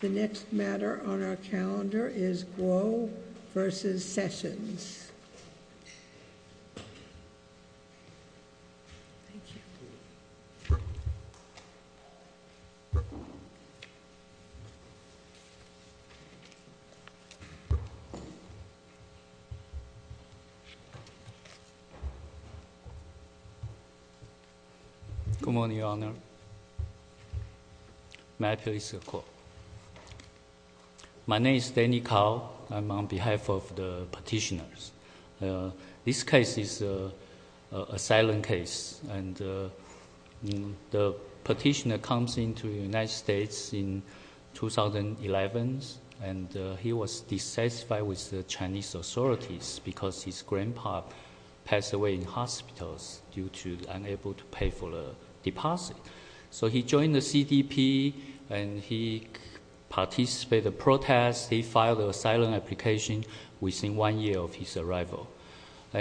The next matter on our calendar is Guo v. Sessions. Good morning, Your Honor. May I please have a quote? My name is Danny Kao. I'm on behalf of the petitioners. This case is an asylum case, and the petitioner comes into the United States in 2011, and he was dissatisfied with the Chinese authorities because his grandpa passed away in hospitals due to unable to pay for the deposit. So he joined the CDP, and he participated in protests. He filed an asylum application within one year of his arrival.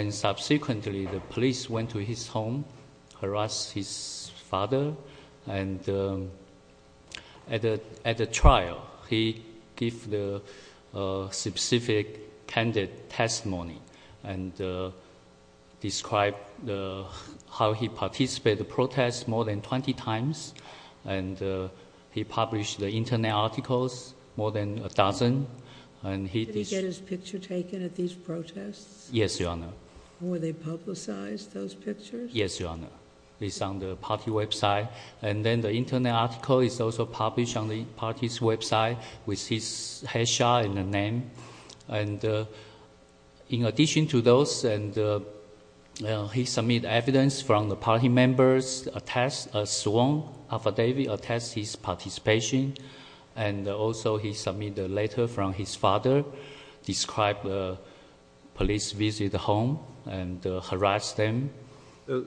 Subsequently, the police went to his home, harassed his father, and at the trial he gave the specific candid testimony and described how he participated in protests more than 20 times and he published the internet articles, more than a dozen. Did he get his picture taken at these protests? Yes, Your Honor. Were they publicized, those pictures? Yes, Your Honor. It's on the party website, and then the internet article is also published on the party's website with his headshot and the name. In addition to those, he submitted evidence from the party members, a sworn affidavit attesting his participation, and also he submitted a letter from his father describing a police visit to his home and harassed him.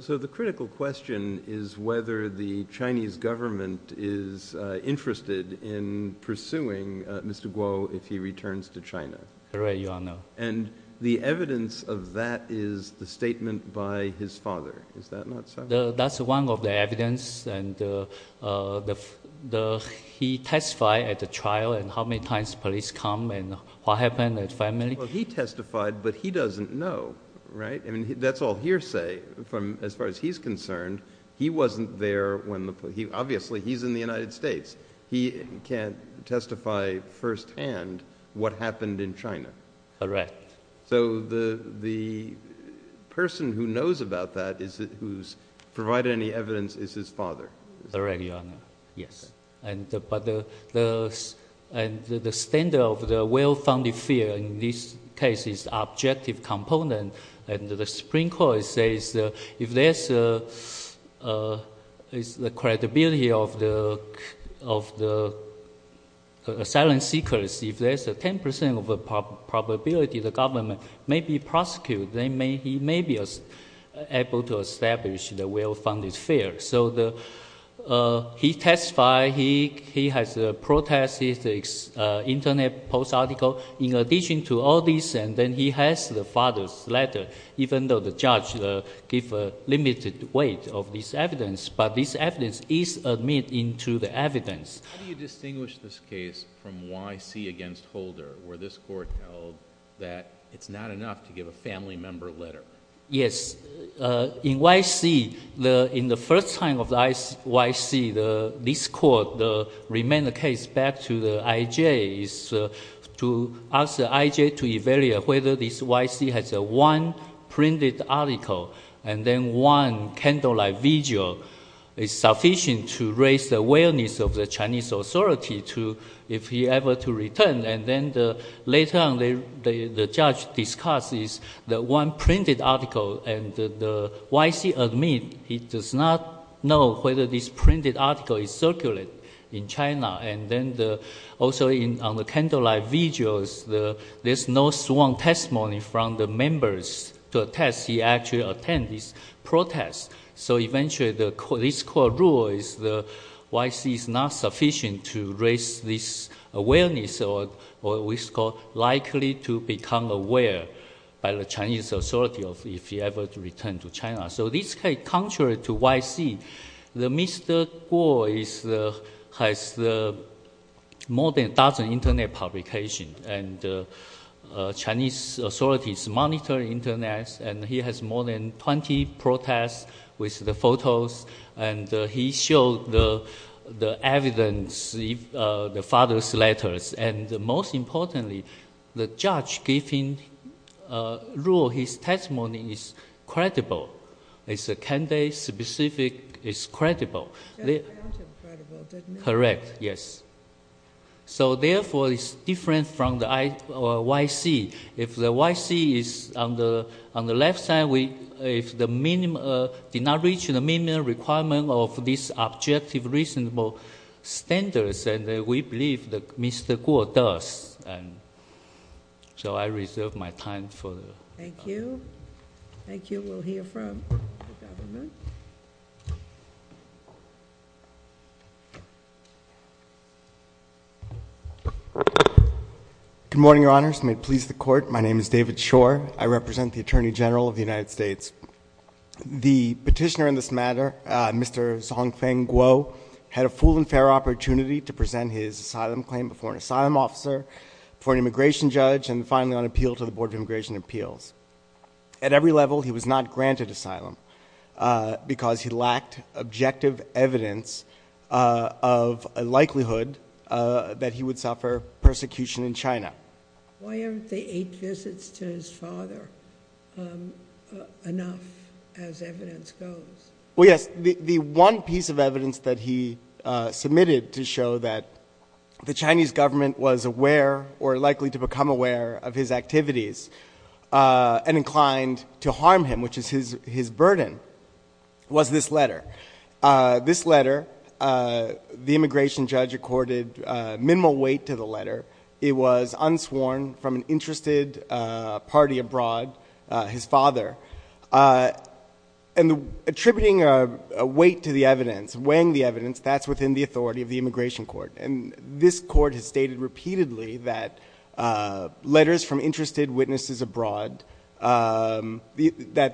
So the critical question is whether the Chinese government is interested in pursuing Mr. Guo if he returns to China. Correct, Your Honor. And the evidence of that is the statement by his father. Is that not so? That's one of the evidence, and he testified at the trial, and how many times police come, and what happened at family? Well, he testified, but he doesn't know, right? I mean, that's all hearsay from as far as he's concerned. He wasn't there when the police... Obviously, he's in the United States. He can't testify firsthand what happened in China. Correct. So the person who provided any evidence is his father. Correct, Your Honor. Yes. But the standard of the well-founded fear in this case is objective component, and the Supreme Court says if there's the credibility of the asylum seekers, if there's a 10% probability the government may be prosecuted, then he may be able to establish the well-founded fear. So he testified. He has protested the internet post article in addition to all this, and then he has the father's letter, even though the judge gave a limited weight of this evidence. But this evidence is admitted into the evidence. How do you distinguish this case from YC against Holder, where this court held that it's not enough to give a family member letter? Yes. In YC, in the first time of YC, this court remained the case back to the IJ to ask the IJ to evaluate whether this YC has one printed article and then one candlelight vigil is sufficient to raise the awareness of the Chinese authority if he ever to return. And then later on, the judge discusses the one printed article, and the YC admit he does not know whether this printed article is circulated in China. And then also on the candlelight vigils, there's no sworn testimony from the members to YC. So this case, contrary to YC, Mr. Guo has more than a dozen internet publications, and Chinese authorities monitor internet, and he has more than 20 protests with the photos, and he showed the evidence, the father's letters. And most importantly, the judge giving rule, his testimony is credible. It's a candidate-specific, it's credible. Correct, yes. So therefore, it's different from the YC. If the YC is on the left side, if the minimum, did not reach the minimum requirement of this objective reasonable standards, and we believe that Mr. Guo does. So I reserve my time for the... Thank you. Thank you. We'll hear from the government. Good morning, your honors. May it please the court. My name is David Shore. I represent the United States. The petitioner in this matter, Mr. Zhongfeng Guo, had a full and fair opportunity to present his asylum claim before an asylum officer, for an immigration judge, and finally on appeal to the Board of Immigration Appeals. At every level, he was not granted asylum, because he lacked objective evidence of a likelihood that he would suffer persecution in China. Is that enough as evidence goes? Well, yes. The one piece of evidence that he submitted to show that the Chinese government was aware or likely to become aware of his activities and inclined to harm him, which is his burden, was this letter. This letter, the immigration judge accorded minimal weight to the letter. It was unsworn from an interested party abroad, his father. And attributing a weight to the evidence, weighing the evidence, that's within the authority of the immigration court. And this court has stated repeatedly that letters from interested witnesses abroad, that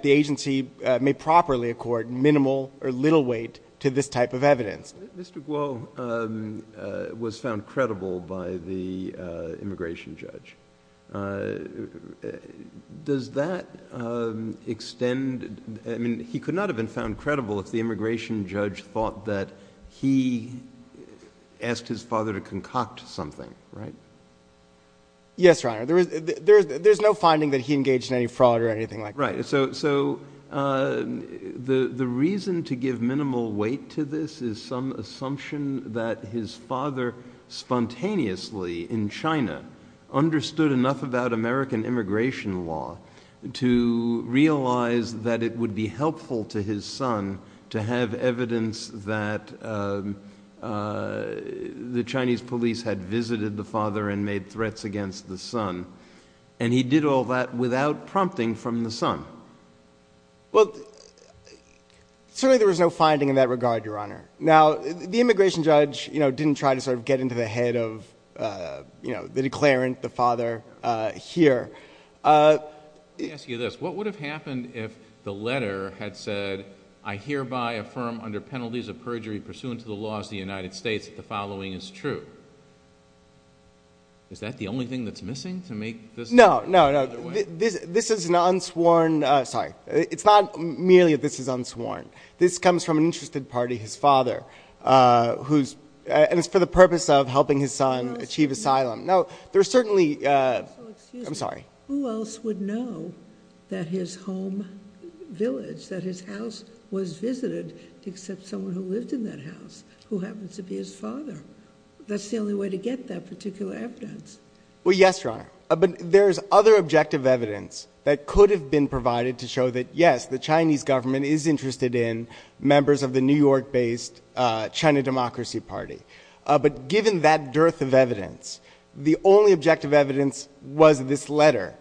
the agency may properly accord minimal or little weight to this type of extent. I mean, he could not have been found credible if the immigration judge thought that he asked his father to concoct something, right? Yes, Your Honor. There's no finding that he engaged in any fraud or anything like that. Right. So the reason to give minimal weight to this is some assumption that his father spontaneously in China understood enough about American immigration law to realize that it would be helpful to his son to have evidence that the Chinese police had visited the father and made threats against the son. And he did all that without prompting from the son. Well, certainly there was no finding in that regard, Your Honor. Now, the immigration judge, you know, didn't try to sort of get into the head of, you know, the declarant, the father here. Let me ask you this. What would have happened if the letter had said, I hereby affirm under penalties of perjury pursuant to the laws of the United States, that the following is true? Is that the only thing that's missing to make this? No, no, no. This is an unsworn, sorry, it's not merely that this is unsworn. This comes from an interested party, his father, who's, and it's for the purpose of helping his son achieve asylum. Now there's certainly, I'm sorry. Who else would know that his home village, that his house was visited except someone who lived in that house, who happens to be his father. That's the only way to get that particular evidence. Well, yes, Your Honor. But there's other objective evidence that could have been provided to show that yes, the Chinese government is interested in the New York-based China Democracy Party. But given that dearth of evidence, the only objective evidence was this letter.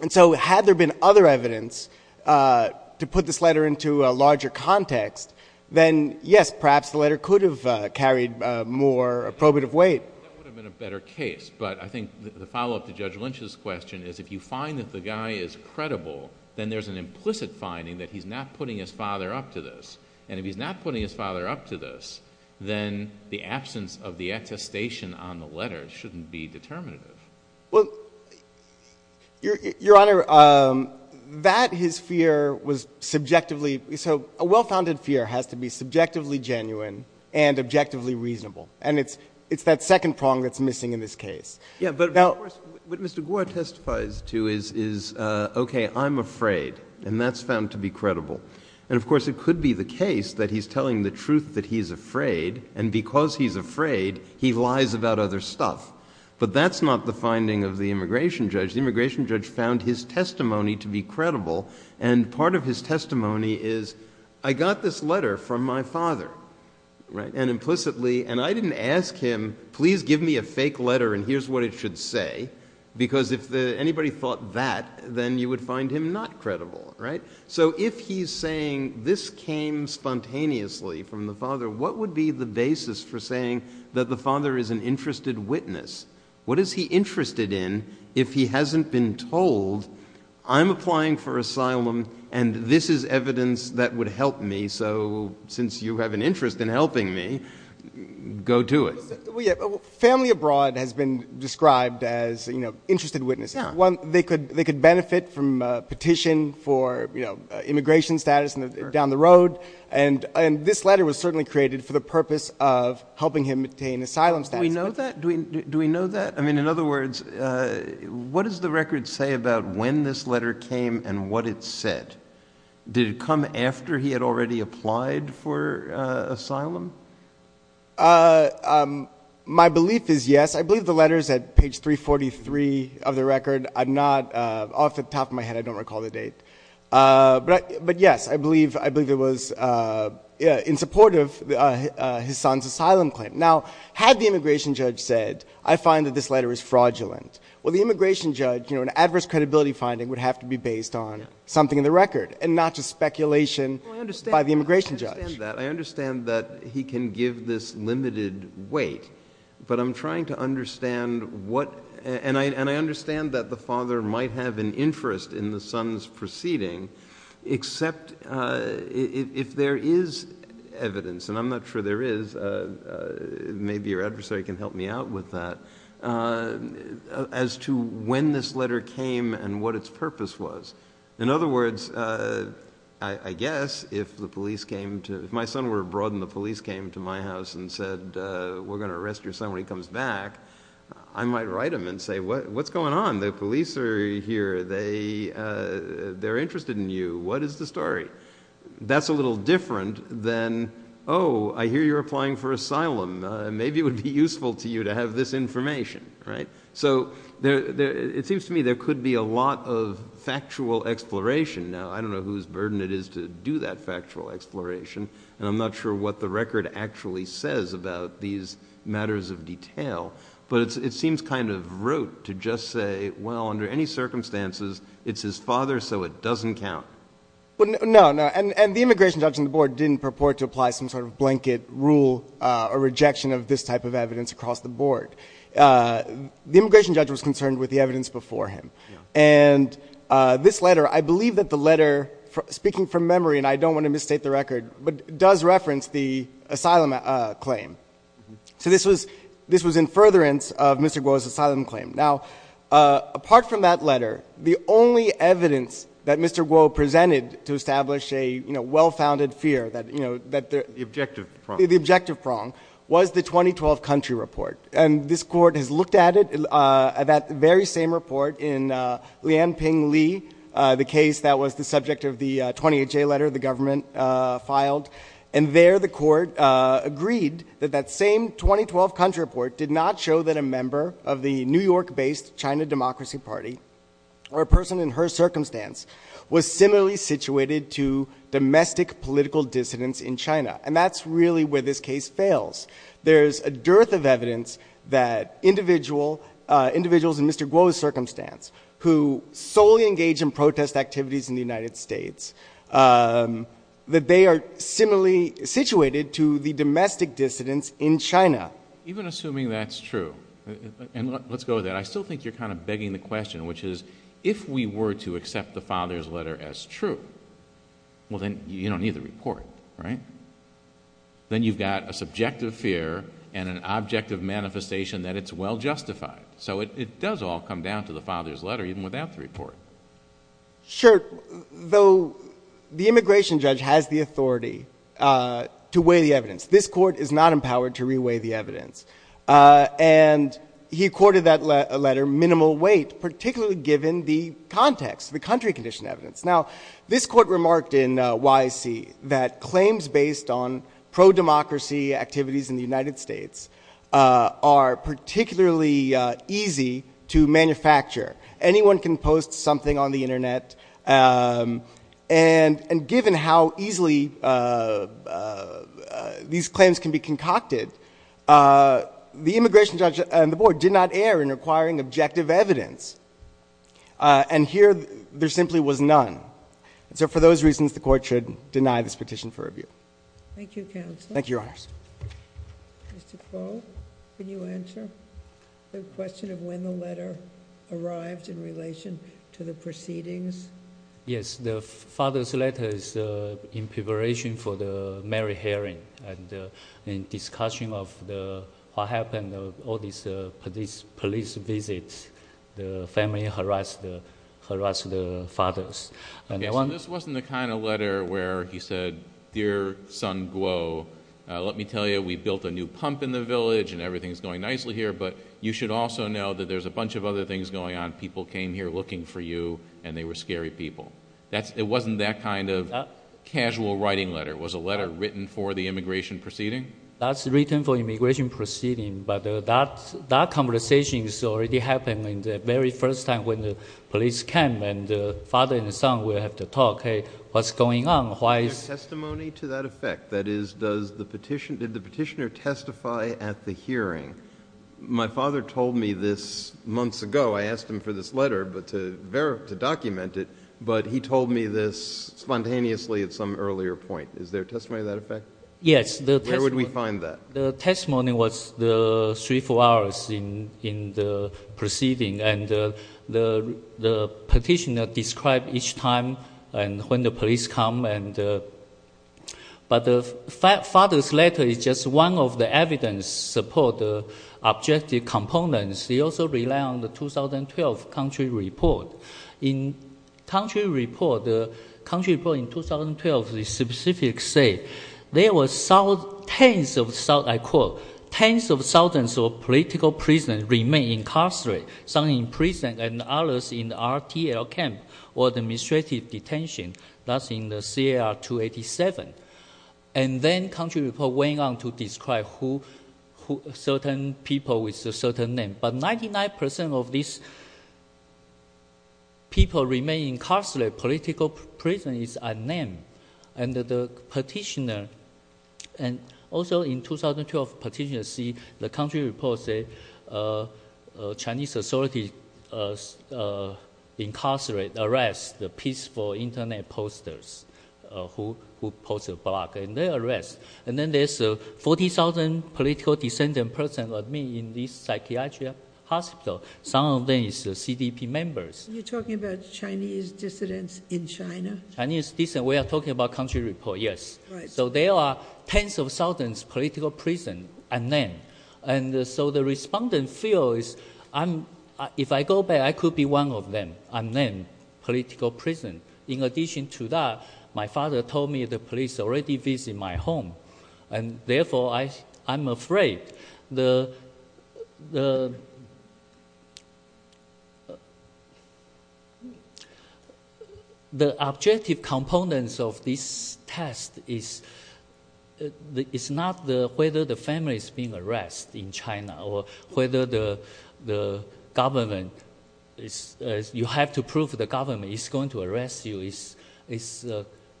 And so had there been other evidence to put this letter into a larger context, then yes, perhaps the letter could have carried more probative weight. That would have been a better case. But I think the follow-up to Judge Lynch's question is if you find that the guy is credible, then there's an implicit finding that he's not putting his and if he's not putting his father up to this, then the absence of the attestation on the letter shouldn't be determinative. Well, Your Honor, that his fear was subjectively, so a well-founded fear has to be subjectively genuine and objectively reasonable. And it's that second prong that's missing in this case. Yeah, but what Mr. Gore testifies to is, okay, I'm afraid, and that's found to be credible. And of course, it could be the case that he's telling the truth that he's afraid, and because he's afraid, he lies about other stuff. But that's not the finding of the immigration judge. The immigration judge found his testimony to be credible. And part of his testimony is, I got this letter from my father, right? And implicitly, and I didn't ask him, please give me a fake letter and here's what it should say. Because if anybody thought that, then you would find him not credible, right? So if he's saying this came spontaneously from the father, what would be the basis for saying that the father is an interested witness? What is he interested in if he hasn't been told, I'm applying for asylum, and this is evidence that would help me. So since you have an interest in helping me, go to it. Family abroad has been petitioned for immigration status down the road. And this letter was certainly created for the purpose of helping him obtain asylum status. Do we know that? Do we know that? I mean, in other words, what does the record say about when this letter came and what it said? Did it come after he had already applied for asylum? My belief is yes, I believe the letters at page 343 of the record, I'm not off the top of my head, I don't recall the date. But yes, I believe I believe it was in support of his son's asylum claim. Now, had the immigration judge said, I find that this letter is fraudulent. Well, the immigration judge, you know, an adverse credibility finding would have to be based on something in the record and not just speculation by the immigration judge. I understand that he can give this limited weight. But I'm trying to understand what, and I understand that the father might have an interest in the son's proceeding, except if there is evidence, and I'm not sure there is, maybe your adversary can help me out with that, as to when this letter came and what its purpose was. In other words, I guess if the police came to, if my son were abroad and the police came to my house and said, we're going to arrest your son when he comes back, I might write him and say, what's going on? The police are here. They're interested in you. What is the story? That's a little different than, oh, I hear you're applying for asylum. Maybe it would be useful to you to have this information, right? So it seems to me there could be a lot of factual exploration. Now, I don't know whose burden it is to do that factual exploration, and I'm not sure what the record actually says about these matters of detail, but it seems kind of rote to just say, well, under any circumstances, it's his father, so it doesn't count. No, no. And the immigration judge on the board didn't purport to apply some sort of blanket rule or rejection of this type of evidence across the board. The immigration judge was concerned with the evidence before him. And this letter, I believe that the letter, speaking from memory, and I don't want to misstate the record, but does reference the asylum claim. So this was, this was in furtherance of Mr. Guo's asylum claim. Now, apart from that letter, the only evidence that Mr. Guo presented to establish a, you know, well-founded fear that, you know, that... The objective prong. The objective prong was the 2012 country report. And this court has looked at it, at that very same report in Jianping Li, the case that was the subject of the 20HA letter the government filed. And there, the court agreed that that same 2012 country report did not show that a member of the New York-based China Democracy Party, or a person in her circumstance, was similarly situated to domestic political dissidents in China. And that's really where this case fails. There's a dearth of evidence that individual, individuals in Mr. Guo's circumstance, who solely engage in protest activities in the United States, that they are similarly situated to the domestic dissidents in China. Even assuming that's true, and let's go with that, I still think you're kind of begging the question, which is, if we were to accept the father's letter as true, well then you don't report, right? Then you've got a subjective fear and an objective manifestation that it's well justified. So it does all come down to the father's letter, even without the report. Sure. Though the immigration judge has the authority to weigh the evidence. This court is not empowered to re-weigh the evidence. And he accorded that letter minimal weight, particularly given the context, the country condition evidence. Now this court remarked in YAC that claims based on pro-democracy activities in the United States are particularly easy to manufacture. Anyone can post something on the internet. And given how easily these claims can be concocted, the immigration judge and the board did not err in acquiring objective evidence. And here there simply was none. So for those reasons, the court should deny this petition for review. Thank you, counsel. Thank you, your honors. Mr. Kuo, can you answer the question of when the letter arrived in relation to the proceedings? Yes, the father's letter is in preparation for the merry hearing and discussion of what happened, all these police visits, the family harassed the fathers. So this wasn't the kind of letter where he said, dear son Kuo, let me tell you, we built a new pump in the village and everything's going nicely here, but you should also know that there's a bunch of other things going on. People came here looking for you and they were scary people. It wasn't that kind of casual writing letter. It was a letter written for the immigration proceeding? That's written for immigration proceeding, but that conversation already happened in the very first time when the police came and the father and the son will have to talk, hey, what's going on, why is... Testimony to that effect, that is, did the petitioner testify at the hearing? My father told me this months ago, I asked him for this letter to document it, but he told me this spontaneously at some earlier point. Is there testimony to that effect? Yes. Where would we find that? The testimony was the three, four hours in the proceeding, and the petitioner described each time when the police come, but the father's letter is just one of the evidence supporting the objective components. He also relied on the 2012 country report. In country report, the country report in 2012, the specifics say there were tens of, I quote, tens of thousands of political prisoners remain incarcerated, some in prison and others in RTL camp or the administrative detention, that's in the CAR 287. And then country report went on to describe who certain people with certain name, but 99% of these people remain incarcerated, political prison is unnamed. And the petitioner, and also in 2012 petitioner see the country report say Chinese authority incarcerate, arrest the peaceful internet posters who post a blog, and they arrest. And then there's 40,000 political dissident person like me in this psychiatry hospital. Some of them is the CDP members. You're talking about Chinese dissidents in China? Chinese dissident, we are talking about country report, yes. So there are tens of thousands political prison unnamed. And so the respondent feels, if I go back, I could be one of them, unnamed political prison. In addition to that, my father told me the police already visit my home. And therefore I'm afraid the objective components of this test is not whether the family is being arrested.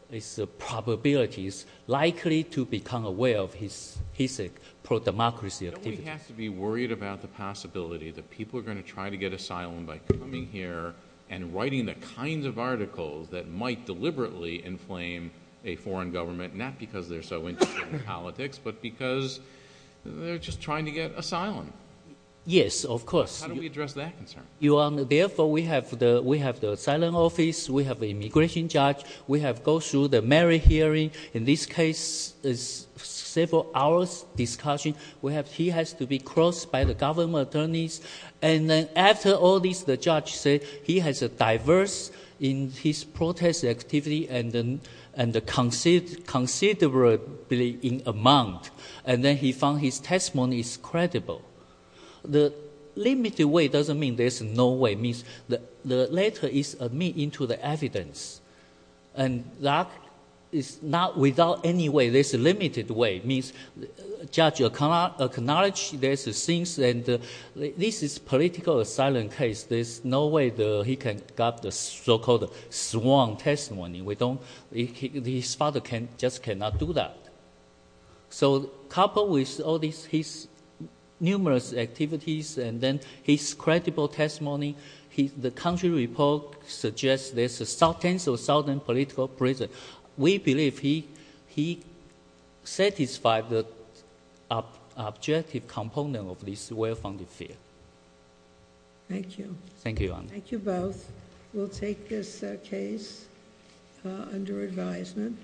It's the probabilities likely to become aware of his pro-democracy activity. Nobody has to be worried about the possibility that people are going to try to get asylum by coming here and writing the kinds of articles that might deliberately inflame a foreign government, not because they're so interested in politics, but because they're just trying to get asylum. Yes, of course. How do we address that concern? Therefore, we have the asylum office. We have immigration judge. We have go through the merit hearing. In this case, it's several hours discussion. He has to be crossed by the government attorneys. And then after all this, the judge said he has a diverse in his protest activity and considerably in amount. And then he found his testimony is credible. The limited way doesn't mean there's no way. It means the letter is admit into the evidence. And that is not without any way. There's a limited way. It means judge acknowledge there's a things and this is political asylum case. There's no way he can got the so-called sworn testimony. His father just cannot do that. So couple with all these, his numerous activities, and then his credible testimony, the country report suggests there's a south tensile, southern political prison. We believe he satisfied the objective component of this well-founded fear. Thank you. Thank you. Thank you both. We'll take this case under advisement.